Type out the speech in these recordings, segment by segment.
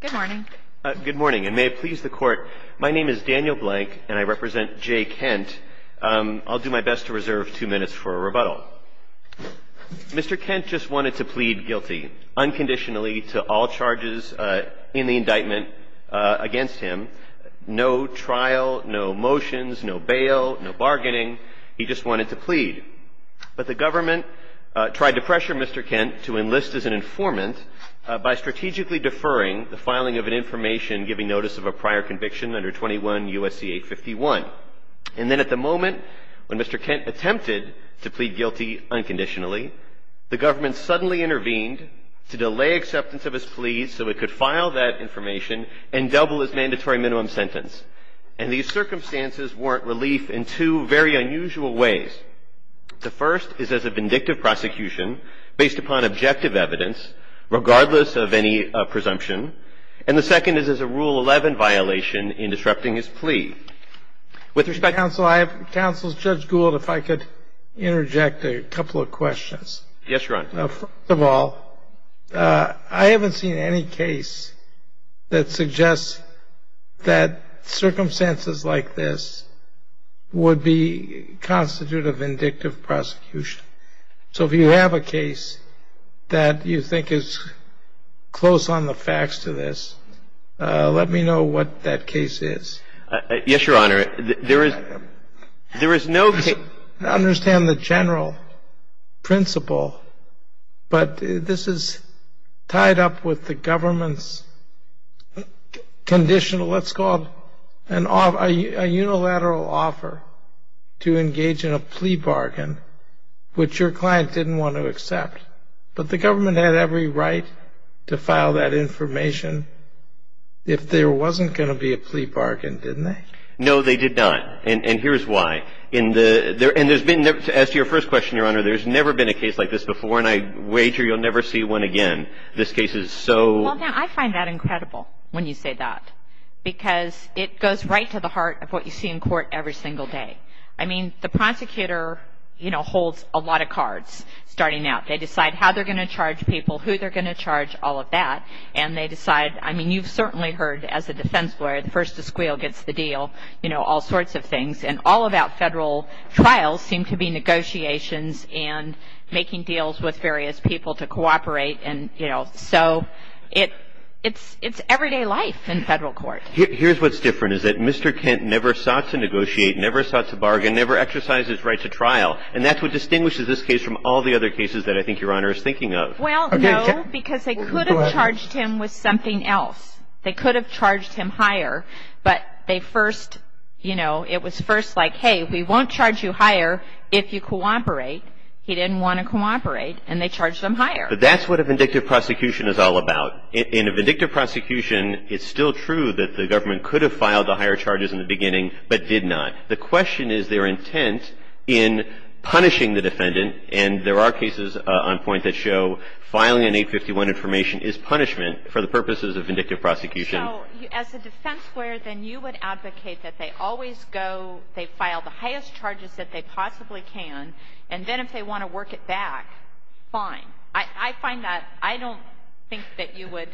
Good morning. Good morning, and may it please the court. My name is Daniel Blank, and I represent Jay Kent. I'll do my best to reserve two minutes for a rebuttal. Mr. Kent just wanted to plead guilty unconditionally to all charges in the indictment against him. No trial, no motions, no bail, no bargaining. He just wanted to plead. But the government tried to pressure Mr. Kent to enlist as an informant by strategically deferring the filing of an information giving notice of a prior conviction under 21 U.S.C. 851. And then at the moment when Mr. Kent attempted to plead guilty unconditionally, the government suddenly intervened to delay acceptance of his plea so it could file that information and double his mandatory minimum sentence. And these circumstances warrant relief in two very unusual ways. The first is as a vindictive prosecution based upon objective evidence, regardless of any presumption. And the second is as a Rule 11 violation in disrupting his plea. With respect to counsel, I have counsel Judge Gould, if I could interject a couple of questions. Yes, Your Honor. First of all, I haven't seen any case that suggests that circumstances like this would be constituted of vindictive prosecution. So if you have a case that you think is close on the facts to this, let me know what that case is. Yes, Your Honor. There is no case. I understand the general principle, but this is tied up with the government's conditional, let's call it a unilateral offer to engage in a plea bargain, which your client didn't want to accept. But the government had every right to file that information if there wasn't going to be a plea bargain, didn't they? No, they did not. And here's why. And as to your first question, Your Honor, there's never been a case like this before, and I wager you'll never see one again. This case is so... Well, I find that incredible when you say that. Because it goes right to the heart of what you see in court every single day. I mean, the prosecutor holds a lot of cards starting out. They decide how they're going to charge people, who they're going to charge, all of that. And they decide, I mean, you've certainly heard as a defense lawyer, the first to squeal gets the deal, you know, all sorts of things. And all about federal trials seem to be negotiations and making deals with various people to cooperate. And, you know, so it's everyday life in federal court. Here's what's different, is that Mr. Kent never sought to negotiate, never sought to bargain, never exercised his right to trial. And that's what distinguishes this case from all the other cases that I think Your Honor is thinking of. Well, no, because they could have charged him with something else. They could have charged him higher, but they first, you know, it was first like, hey, we won't charge you higher if you cooperate. He didn't want to cooperate, and they charged him higher. But that's what a vindictive prosecution is all about. In a vindictive prosecution, it's still true that the government could have filed the higher charges in the beginning, but did not. The question is their intent in punishing the defendant. And there are cases on point that show filing an 851 information is punishment for the purposes of vindictive prosecution. So as a defense lawyer, then you would advocate that they always go, they file the highest charges that they possibly can, and then if they want to work it back, fine. I find that I don't think that you would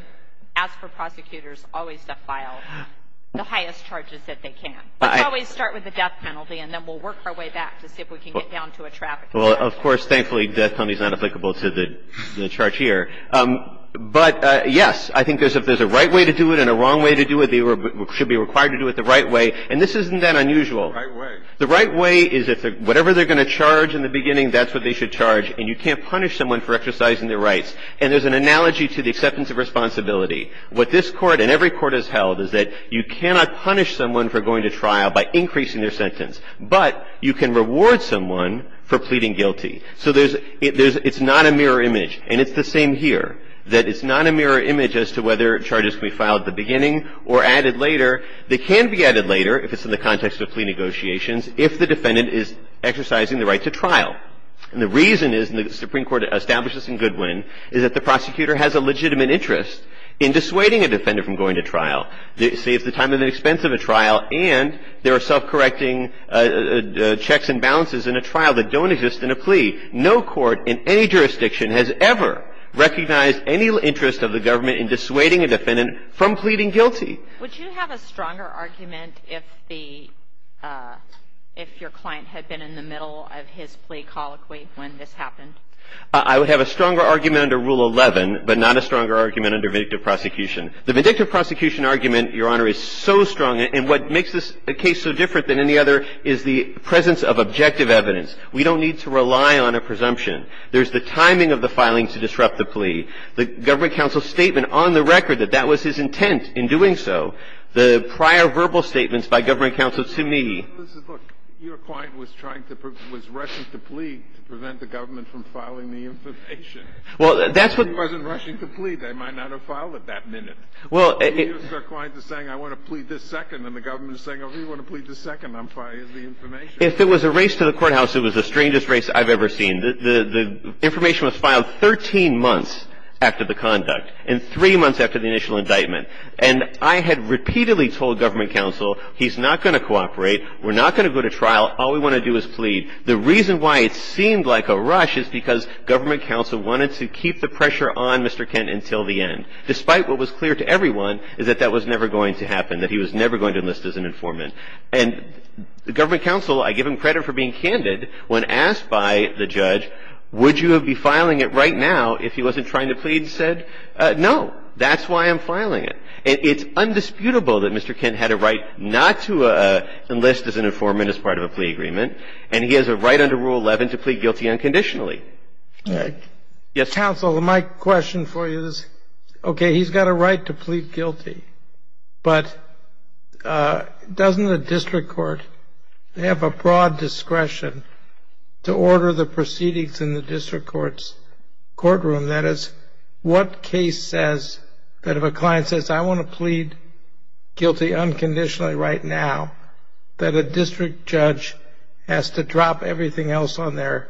ask for prosecutors always to file the highest charges that they can. Let's always start with the death penalty, and then we'll work our way back to see if we can get down to a traffic penalty. Well, of course, thankfully, death penalty is not applicable to the charge here. But, yes, I think if there's a right way to do it and a wrong way to do it, they should be required to do it the right way. And this isn't that unusual. The right way. The right way is if whatever they're going to charge in the beginning, that's what they should charge, and you can't punish someone for exercising their rights. And there's an analogy to the acceptance of responsibility. What this Court and every court has held is that you cannot punish someone for going to trial by increasing their sentence, but you can reward someone for pleading guilty. So there's – it's not a mirror image. And it's the same here, that it's not a mirror image as to whether charges can be filed at the beginning or added later. They can be added later if it's in the context of plea negotiations if the defendant is exercising the right to trial. And the reason is, and the Supreme Court established this in Goodwin, is that the prosecutor has a legitimate interest in dissuading a defendant from going to trial. It saves the time and expense of a trial, and there are self-correcting checks and balances in a trial that don't exist in a plea. No court in any jurisdiction has ever recognized any interest of the government in dissuading a defendant from pleading guilty. Would you have a stronger argument if the – if your client had been in the middle of his plea colloquy when this happened? I would have a stronger argument under Rule 11, but not a stronger argument under vindictive prosecution. The vindictive prosecution argument, Your Honor, is so strong. And what makes this case so different than any other is the presence of objective evidence. We don't need to rely on a presumption. The fact of the matter is that the defendant's testimony, the government counsel's statement on the record that that was his intent in doing so, the prior verbal statements by government counsel to me, Your client was trying to – was rushing to plea to prevent the government from filing the information. Well, that's what He wasn't rushing to plead. They might not have filed it that minute. Well, Your client is saying, I want to plead this second, and the government is saying, oh, you want to plead this second, I'm filing the information. If it was a race to the courthouse, it was the strangest race I've ever seen. The information was filed 13 months after the conduct and three months after the initial indictment. And I had repeatedly told government counsel, he's not going to cooperate, we're not going to go to trial, all we want to do is plead. The reason why it seemed like a rush is because government counsel wanted to keep the pressure on Mr. Kent until the end, despite what was clear to everyone is that that was never going to happen, that he was never going to enlist as an informant. And government counsel, I give him credit for being candid when asked by the judge, would you be filing it right now if he wasn't trying to plead, said, no, that's why I'm filing it. It's undisputable that Mr. Kent had a right not to enlist as an informant as part of a plea agreement, and he has a right under Rule 11 to plead guilty unconditionally. Counsel, my question for you is, okay, he's got a right to plead guilty, but doesn't the district court have a broad discretion to order the proceedings in the district court's courtroom? That is, what case says that if a client says, I want to plead guilty unconditionally right now, that a district judge has to drop everything else on their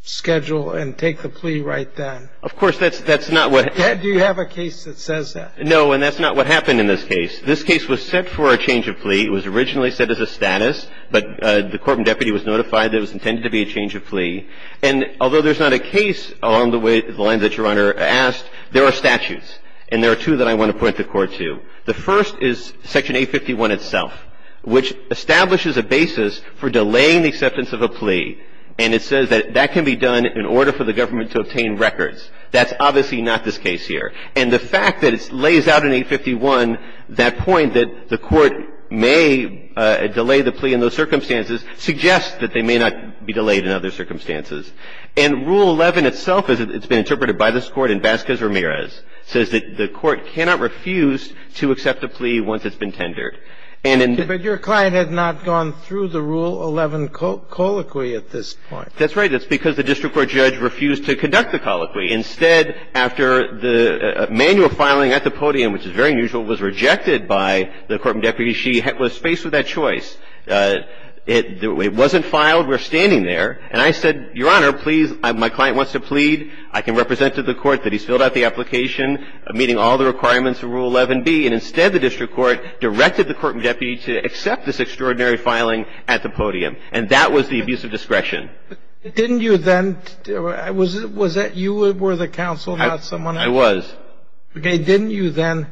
schedule and take the plea right then? Of course, that's not what happens. Do you have a case that says that? No, and that's not what happened in this case. This case was set for a change of plea. It was originally set as a status, but the court and deputy was notified that it was intended to be a change of plea. And although there's not a case along the lines that Your Honor asked, there are statutes, and there are two that I want to point the Court to. The first is Section 851 itself, which establishes a basis for delaying the acceptance of a plea, and it says that that can be done in order for the government to obtain records. That's obviously not this case here. And the fact that it lays out in 851 that point that the court may delay the plea in those circumstances suggests that they may not be delayed in other circumstances. And Rule 11 itself, as it's been interpreted by this Court in Vasquez-Ramirez, says that the court cannot refuse to accept a plea once it's been tendered. And in the ---- But your client has not gone through the Rule 11 colloquy at this point. That's right. That's because the district court judge refused to conduct the colloquy. Instead, after the manual filing at the podium, which is very unusual, was rejected by the court and deputy, she was faced with that choice. It wasn't filed. We're standing there. And I said, Your Honor, please, my client wants to plead. I can represent to the court that he's filled out the application meeting all the requirements of Rule 11b. And instead, the district court directed the court and deputy to accept this extraordinary filing at the podium. And that was the abuse of discretion. Didn't you then ---- Was that you were the counsel, not someone else? I was. Okay. Didn't you then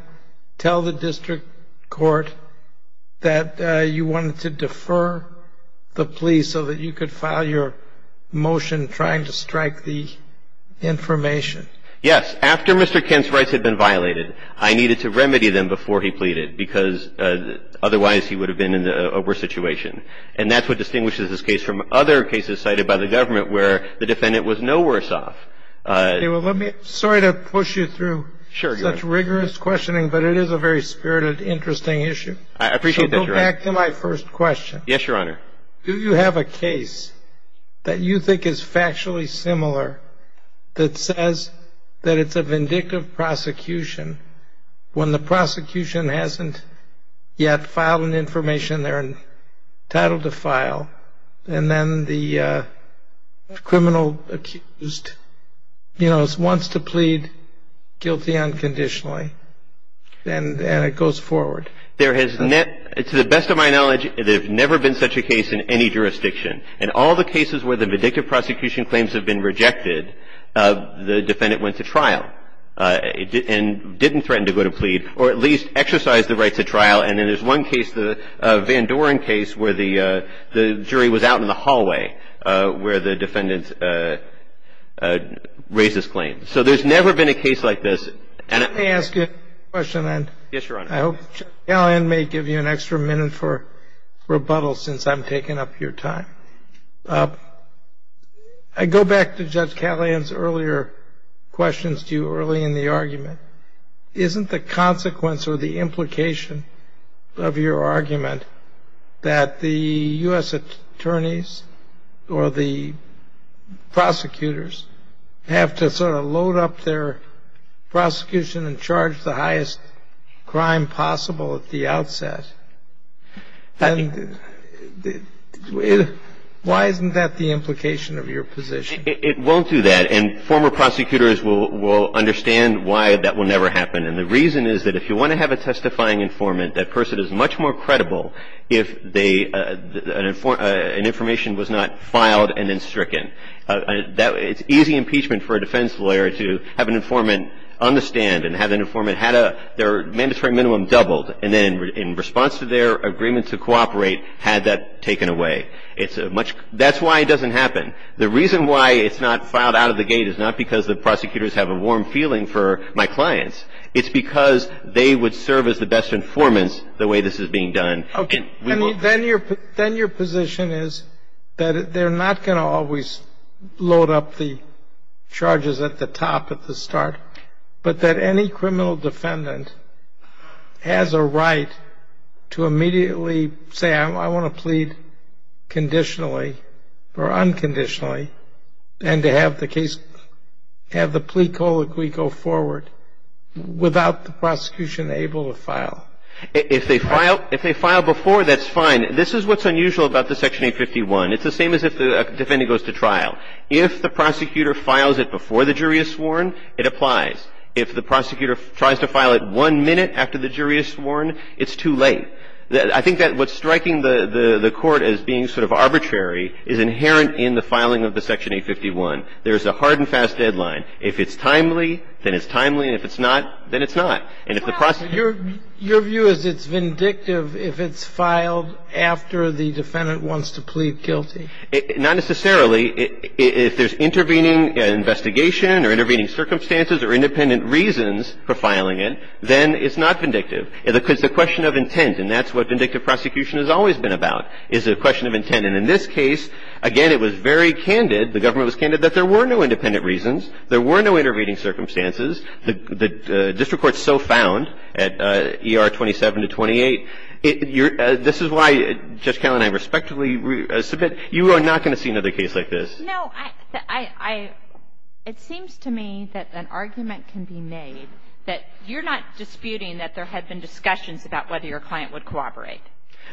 tell the district court that you wanted to defer the plea so that you could file your motion trying to strike the information? Yes. After Mr. Kent's rights had been violated, I needed to remedy them before he pleaded, because otherwise he would have been in a worse situation. And that's what distinguishes this case from other cases cited by the government where the defendant was no worse off. Okay. Well, let me ---- Sorry to push you through such rigorous questioning, but it is a very spirited, interesting issue. I appreciate that, Your Honor. So go back to my first question. Yes, Your Honor. Do you have a case that you think is factually similar that says that it's a vindictive prosecution when the prosecution hasn't yet filed an information they're entitled to file, and then the criminal accused, you know, wants to plead guilty unconditionally, and it goes forward? There has never ---- To the best of my knowledge, there has never been such a case in any jurisdiction. In all the cases where the vindictive prosecution claims have been rejected, the defendant went to trial. And didn't threaten to go to plead, or at least exercise the right to trial. And then there's one case, the Van Doren case, where the jury was out in the hallway where the defendant raised his claim. So there's never been a case like this. Let me ask you a question. Yes, Your Honor. I hope Judge Callahan may give you an extra minute for rebuttal since I'm taking up your time. I go back to Judge Callahan's earlier questions to you early in the argument. Isn't the consequence or the implication of your argument that the U.S. attorneys or the prosecutors have to sort of load up their prosecution and charge the highest crime possible at the outset? Why isn't that the implication of your position? It won't do that. And former prosecutors will understand why that will never happen. And the reason is that if you want to have a testifying informant, that person is much more credible if an information was not filed and then stricken. It's easy impeachment for a defense lawyer to have an informant on the stand and have an informant have their mandatory minimum and doubled, and then in response to their agreement to cooperate, had that taken away. That's why it doesn't happen. The reason why it's not filed out of the gate is not because the prosecutors have a warm feeling for my clients. It's because they would serve as the best informants the way this is being done. Then your position is that they're not going to always load up the charges at the top at the start, but that any criminal defendant has a right to immediately say, I want to plead conditionally or unconditionally, and to have the plea colloquy go forward without the prosecution able to file. If they file before, that's fine. This is what's unusual about the Section 851. It's the same as if a defendant goes to trial. If the prosecutor files it before the jury is sworn, it applies. If the prosecutor tries to file it one minute after the jury is sworn, it's too late. I think that what's striking the Court as being sort of arbitrary is inherent in the filing of the Section 851. There's a hard and fast deadline. If it's timely, then it's timely, and if it's not, then it's not. And if the prosecutor — Your view is it's vindictive if it's filed after the defendant wants to plead guilty? Not necessarily. If there's intervening investigation or intervening circumstances or independent reasons for filing it, then it's not vindictive. It's a question of intent, and that's what vindictive prosecution has always been about, is a question of intent. And in this case, again, it was very candid, the government was candid, that there were no independent reasons, there were no intervening circumstances. The district court so found at ER 27 to 28. This is why, Judge Kelley and I respectfully submit, you are not going to see another case like this. No. I — it seems to me that an argument can be made that you're not disputing that there had been discussions about whether your client would cooperate.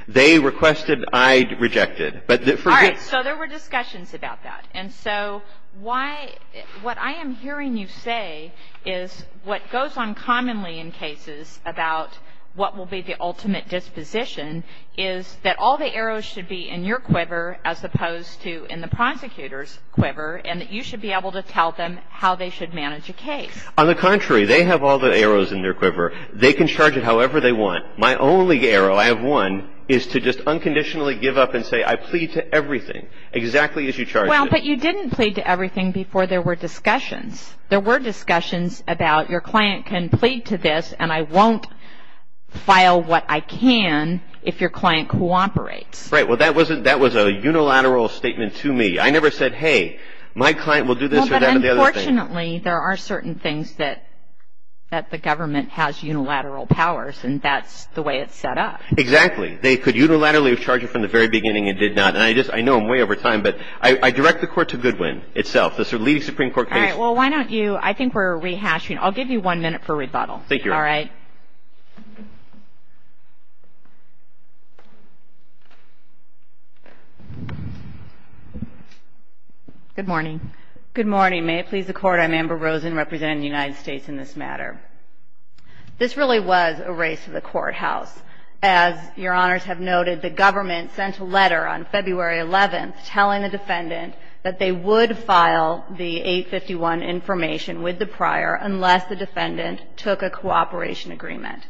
They requested. I rejected. All right. So there were discussions about that. And so why — what I am hearing you say is what goes on commonly in cases about what will be the ultimate disposition is that all the arrows should be in your quiver as opposed to in the prosecutor's quiver and that you should be able to tell them how they should manage a case. On the contrary, they have all the arrows in their quiver. They can charge it however they want. My only arrow, I have one, is to just unconditionally give up and say, I plead to everything, exactly as you charged it. Well, but you didn't plead to everything before there were discussions. There were discussions about your client can plead to this, and I won't file what I can if your client cooperates. Right. Well, that was a unilateral statement to me. I never said, hey, my client will do this or that or the other thing. Well, but unfortunately, there are certain things that the government has unilateral powers, and that's the way it's set up. Exactly. They could unilaterally charge it from the very beginning and did not. And I just — I know I'm way over time, but I direct the court to Goodwin itself, the leading Supreme Court case. All right. Well, why don't you — I think we're rehashing. I'll give you one minute for rebuttal. Thank you, Your Honor. All right. Good morning. Good morning. May it please the Court, I'm Amber Rosen, representing the United States in this matter. This really was a race to the courthouse. As Your Honors have noted, the government sent a letter on February 11th telling the defendant that they would file the 851 information with the prior unless the defendant took a cooperation agreement.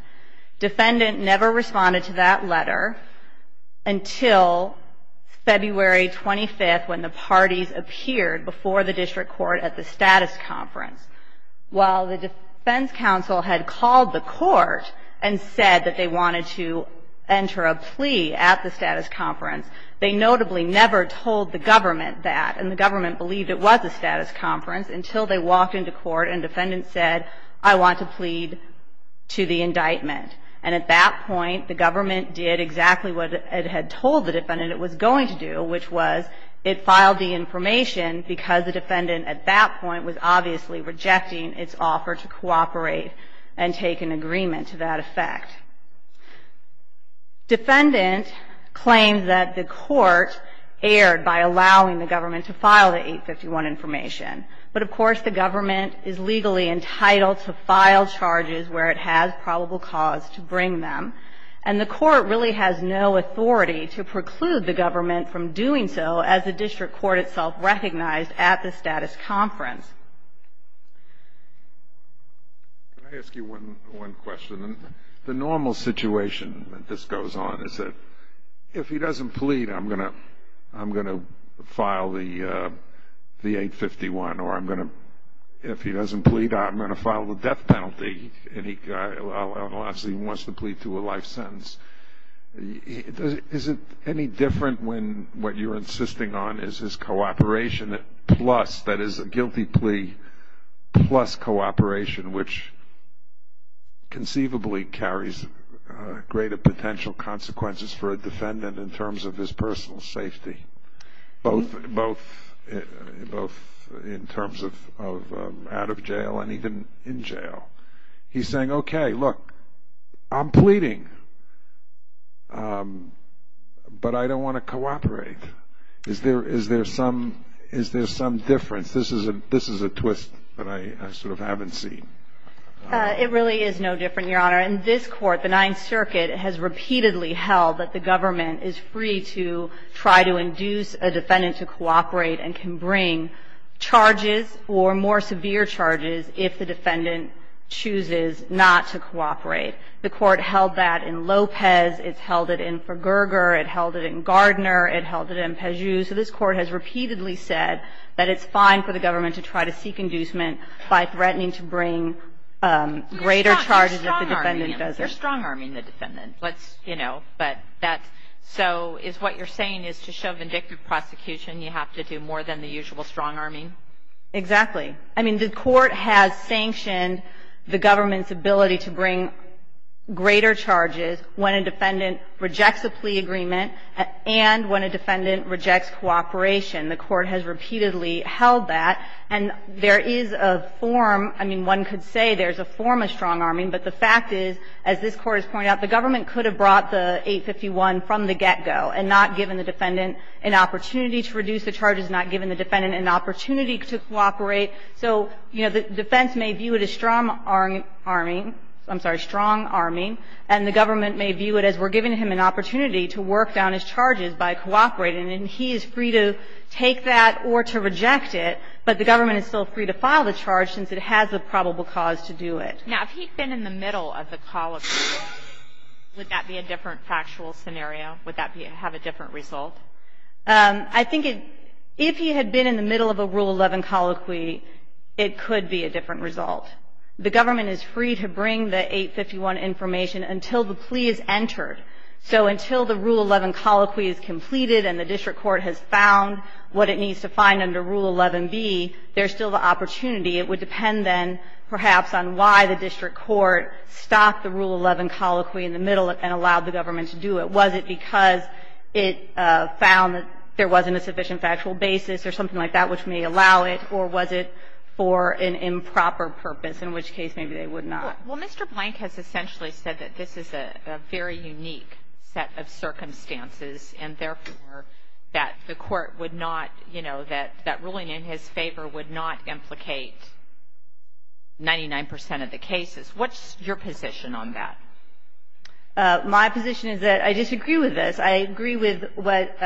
Defendant never responded to that letter until February 25th, when the parties appeared before the district court at the status conference. While the defense counsel had called the court and said that they wanted to enter a plea at the status conference, they notably never told the government that. And the government believed it was a status conference until they walked into court and defendant said, I want to plead to the indictment. And at that point, the government did exactly what it had told the defendant it was going to do, which was it filed the information because the defendant at that point was obviously rejecting its offer to cooperate and take an agreement to that effect. Defendant claimed that the court erred by allowing the government to file the 851 information. But, of course, the government is legally entitled to file charges where it has probable cause to bring them. And the court really has no authority to preclude the government from doing so as the district court itself recognized at the status conference. Can I ask you one question? The normal situation that this goes on is that if he doesn't plead, I'm going to file the 851, or if he doesn't plead, I'm going to file the death penalty, unless he wants to plead to a life sentence. Is it any different when what you're insisting on is his cooperation, plus, that is a guilty plea, plus cooperation, which conceivably carries greater potential consequences for a defendant in terms of his personal safety, both in terms of out of jail and even in jail? He's saying, okay, look, I'm pleading, but I don't want to cooperate. Is there some difference? This is a twist that I sort of haven't seen. It really is no different, Your Honor. In this court, the Ninth Circuit has repeatedly held that the government is free to try to induce a defendant to cooperate and can bring charges or more severe charges if the defendant chooses not to cooperate. The court held that in Lopez. It's held it in Verger. It held it in Gardner. It held it in Peugeot. So this Court has repeatedly said that it's fine for the government to try to seek inducement by threatening to bring greater charges if the defendant does it. You're strong-arming the defendant. Let's, you know, but that's so is what you're saying is to show vindictive prosecution, you have to do more than the usual strong-arming? Exactly. I mean, the Court has sanctioned the government's ability to bring greater charges when a defendant rejects a plea agreement and when a defendant rejects cooperation. The Court has repeatedly held that. And there is a form, I mean, one could say there's a form of strong-arming, but the fact is, as this Court has pointed out, the government could have brought the 851 from the get-go and not given the defendant an opportunity to reduce the charges, not given the defendant an opportunity to cooperate. So, you know, the defense may view it as strong-arming, I'm sorry, strong-arming, and the government may view it as we're giving him an opportunity to work down his charges by cooperating. And he is free to take that or to reject it, but the government is still free to file the charge since it has a probable cause to do it. Now, if he'd been in the middle of the colloquy, would that be a different factual scenario? Would that have a different result? I think if he had been in the middle of a Rule 11 colloquy, it could be a different result. The government is free to bring the 851 information until the plea is entered. So until the Rule 11 colloquy is completed and the district court has found what it needs to find under Rule 11b, there's still the opportunity. It would depend then, perhaps, on why the district court stopped the Rule 11 colloquy in the middle and allowed the government to do it. Was it because it found that there wasn't a sufficient factual basis or something like that which may allow it, or was it for an improper purpose, in which case maybe they would not? Well, Mr. Blank has essentially said that this is a very unique set of circumstances and, therefore, that the Court would not, you know, that that ruling in his favor would not implicate 99 percent of the cases. What's your position on that? My position is that I disagree with this. I agree with what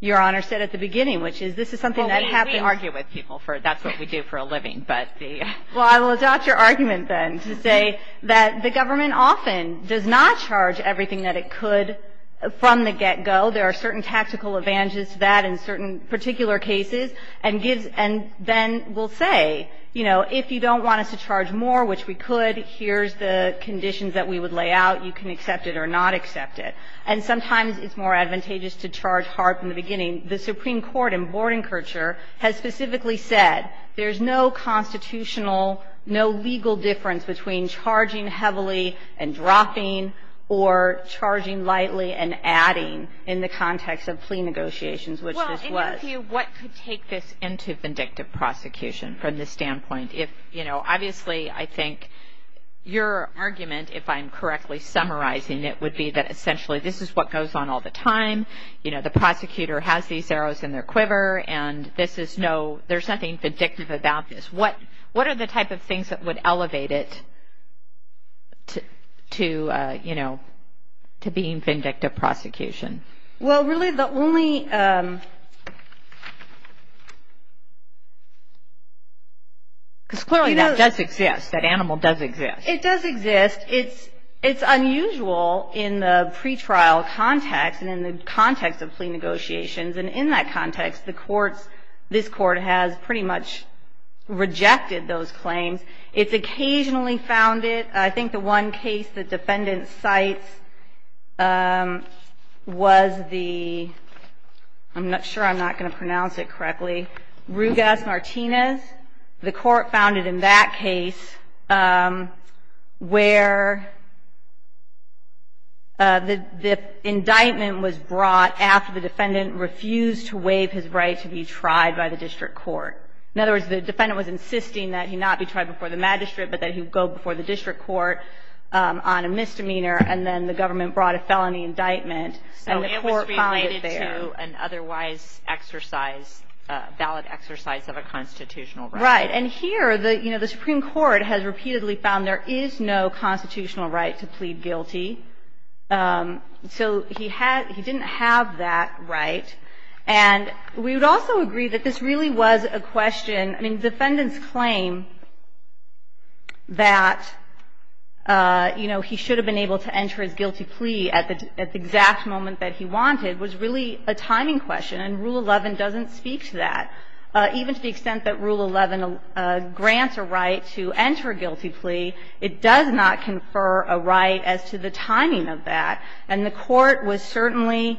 Your Honor said at the beginning, which is this is something that we have to argue with people for. That's what we do for a living. But the ---- Well, I will adopt your argument, then, to say that the government often does not charge everything that it could from the get-go. There are certain tactical advantages to that in certain particular cases and gives and then will say, you know, if you don't want us to charge more, which we could, here's the conditions that we would lay out. You can accept it or not accept it. And sometimes it's more advantageous to charge hard from the beginning. The Supreme Court in Bordenkircher has specifically said there's no constitutional, no legal difference between charging heavily and dropping or charging lightly and adding in the context of plea negotiations, which this was. Well, in your view, what could take this into vindictive prosecution from this standpoint if, you know, obviously, I think your argument, if I'm correctly summarizing it would be that essentially this is what goes on all the time. You know, the prosecutor has these arrows in their quiver and this is no, there's nothing vindictive about this. What are the type of things that would elevate it to, you know, to being vindictive prosecution? Well, really the only, because clearly that does exist. That animal does exist. It does exist. It's unusual in the pretrial context and in the context of plea negotiations. And in that context, the courts, this court has pretty much rejected those claims. It's occasionally found it. I think the one case the defendant cites was the, I'm not sure I'm not going to pronounce it correctly, Rugas-Martinez. The court found it in that case where the indictment was brought after the defendant refused to waive his right to be tried by the district court. In other words, the defendant was insisting that he not be tried before the magistrate, but that he go before the district court on a misdemeanor, and then the government brought a felony indictment, and the court found it there. It's not a constitutional right to do an otherwise exercise, a valid exercise of a constitutional right. Right. And here, you know, the Supreme Court has repeatedly found there is no constitutional right to plead guilty. So he had, he didn't have that right. And we would also agree that this really was a question, I mean, defendant's claim that, you know, he should have been able to enter his guilty plea at the exact moment that he wanted was really a timing question. And Rule 11 doesn't speak to that. Even to the extent that Rule 11 grants a right to enter a guilty plea, it does not confer a right as to the timing of that. And the court was certainly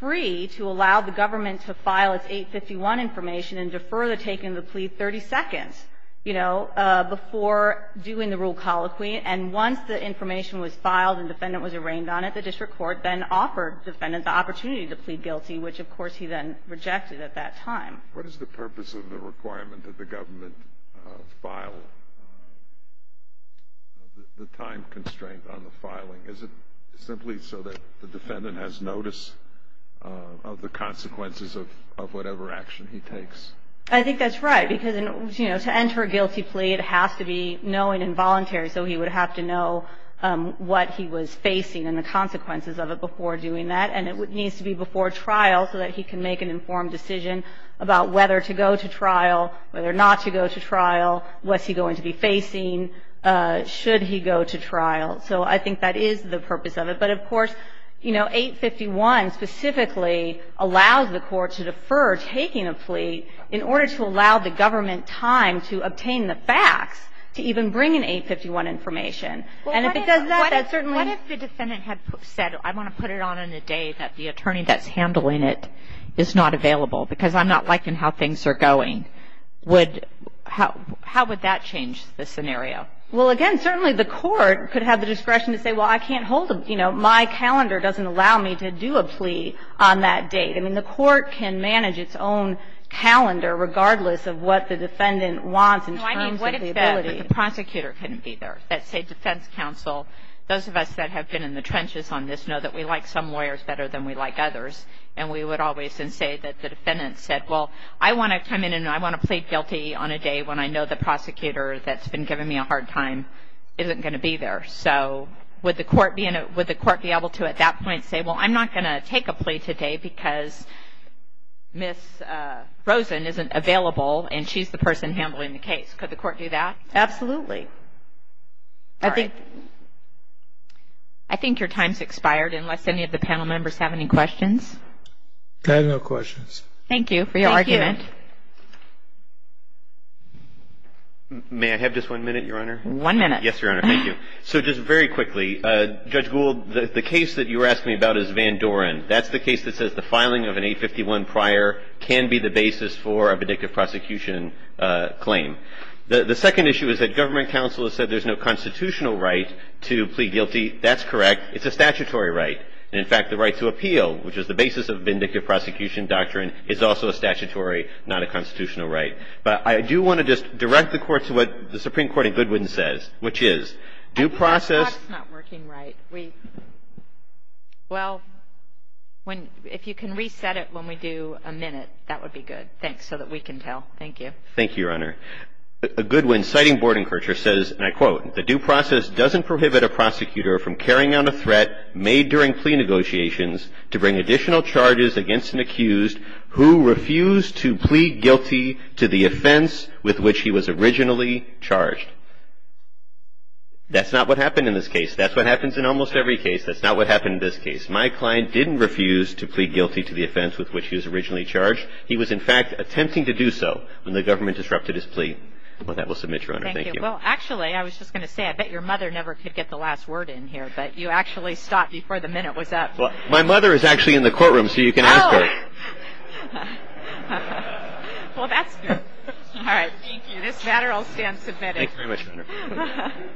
free to allow the government to file its 851 information and defer the taking of the plea 30 seconds, you know, before doing the rule colloquy. And once the information was filed and the defendant was arraigned on it, the district court then offered the defendant the opportunity to plead guilty, which, of course, he then rejected at that time. What is the purpose of the requirement that the government file the time constraint on the filing? Is it simply so that the defendant has notice of the consequences of whatever action he takes? I think that's right. Because, you know, to enter a guilty plea, it has to be knowing and voluntary. So he would have to know what he was facing and the consequences of it before doing that. And it needs to be before trial so that he can make an informed decision about whether to go to trial, whether not to go to trial, what's he going to be facing, should he go to trial. So I think that is the purpose of it. But, of course, you know, 851 specifically allows the court to defer taking a plea in order to allow the government time to obtain the facts to even bring in 851 information. And if it does that, that certainly — What if the defendant had said, I want to put it on in a day that the attorney that's handling it is not available because I'm not liking how things are going? How would that change the scenario? Well, again, certainly the court could have the discretion to say, well, I can't hold a — you know, my calendar doesn't allow me to do a plea on that date. I mean, the court can manage its own calendar regardless of what the defendant wants in terms of the ability. No, I mean, what if the prosecutor couldn't be there? Let's say defense counsel. Those of us that have been in the trenches on this know that we like some lawyers better than we like others. And we would always say that the defendant said, well, I want to come in and I want to plead guilty on a day when I know the prosecutor that's been giving me a hard time isn't going to be there. So would the court be able to at that point say, well, I'm not going to take a plea today because Ms. Rosen isn't available and she's the person handling the case? Could the court do that? Absolutely. All right. I think your time's expired unless any of the panel members have any questions. I have no questions. Thank you for your argument. May I have just one minute, Your Honor? One minute. Yes, Your Honor. Thank you. So just very quickly, Judge Gould, the case that you were asking me about is Van Doren. That's the case that says the filing of an 851 prior can be the basis for a vindictive prosecution claim. The second issue is that government counsel has said there's no constitutional right to plead guilty. That's correct. It's a statutory right. And, in fact, the right to appeal, which is the basis of vindictive prosecution doctrine, is also a statutory, not a constitutional right. But I do want to just direct the Court to what the Supreme Court in Goodwin says, which is due process – I think that's not working right. We – well, when – if you can reset it when we do a minute, that would be good. Thanks. So that we can tell. Thank you. Thank you, Your Honor. Goodwin, citing Bordenkercher, says, and I quote, the due process doesn't prohibit a prosecutor from carrying out a threat made during plea negotiations to bring additional charges against an accused who refused to plead guilty to the offense with which he was originally charged. That's not what happened in this case. That's what happens in almost every case. That's not what happened in this case. My client didn't refuse to plead guilty to the offense with which he was originally charged. He was, in fact, attempting to do so when the government disrupted his plea. Well, that will submit, Your Honor. Thank you. Thank you. Well, actually, I was just going to say, I bet your mother never could get the last word in here, but you actually stopped before the minute was up. My mother is actually in the courtroom, so you can ask her. Oh. Well, that's good. All right. Thank you. This matter will stand submitted. Thank you very much, Your Honor. Thank you.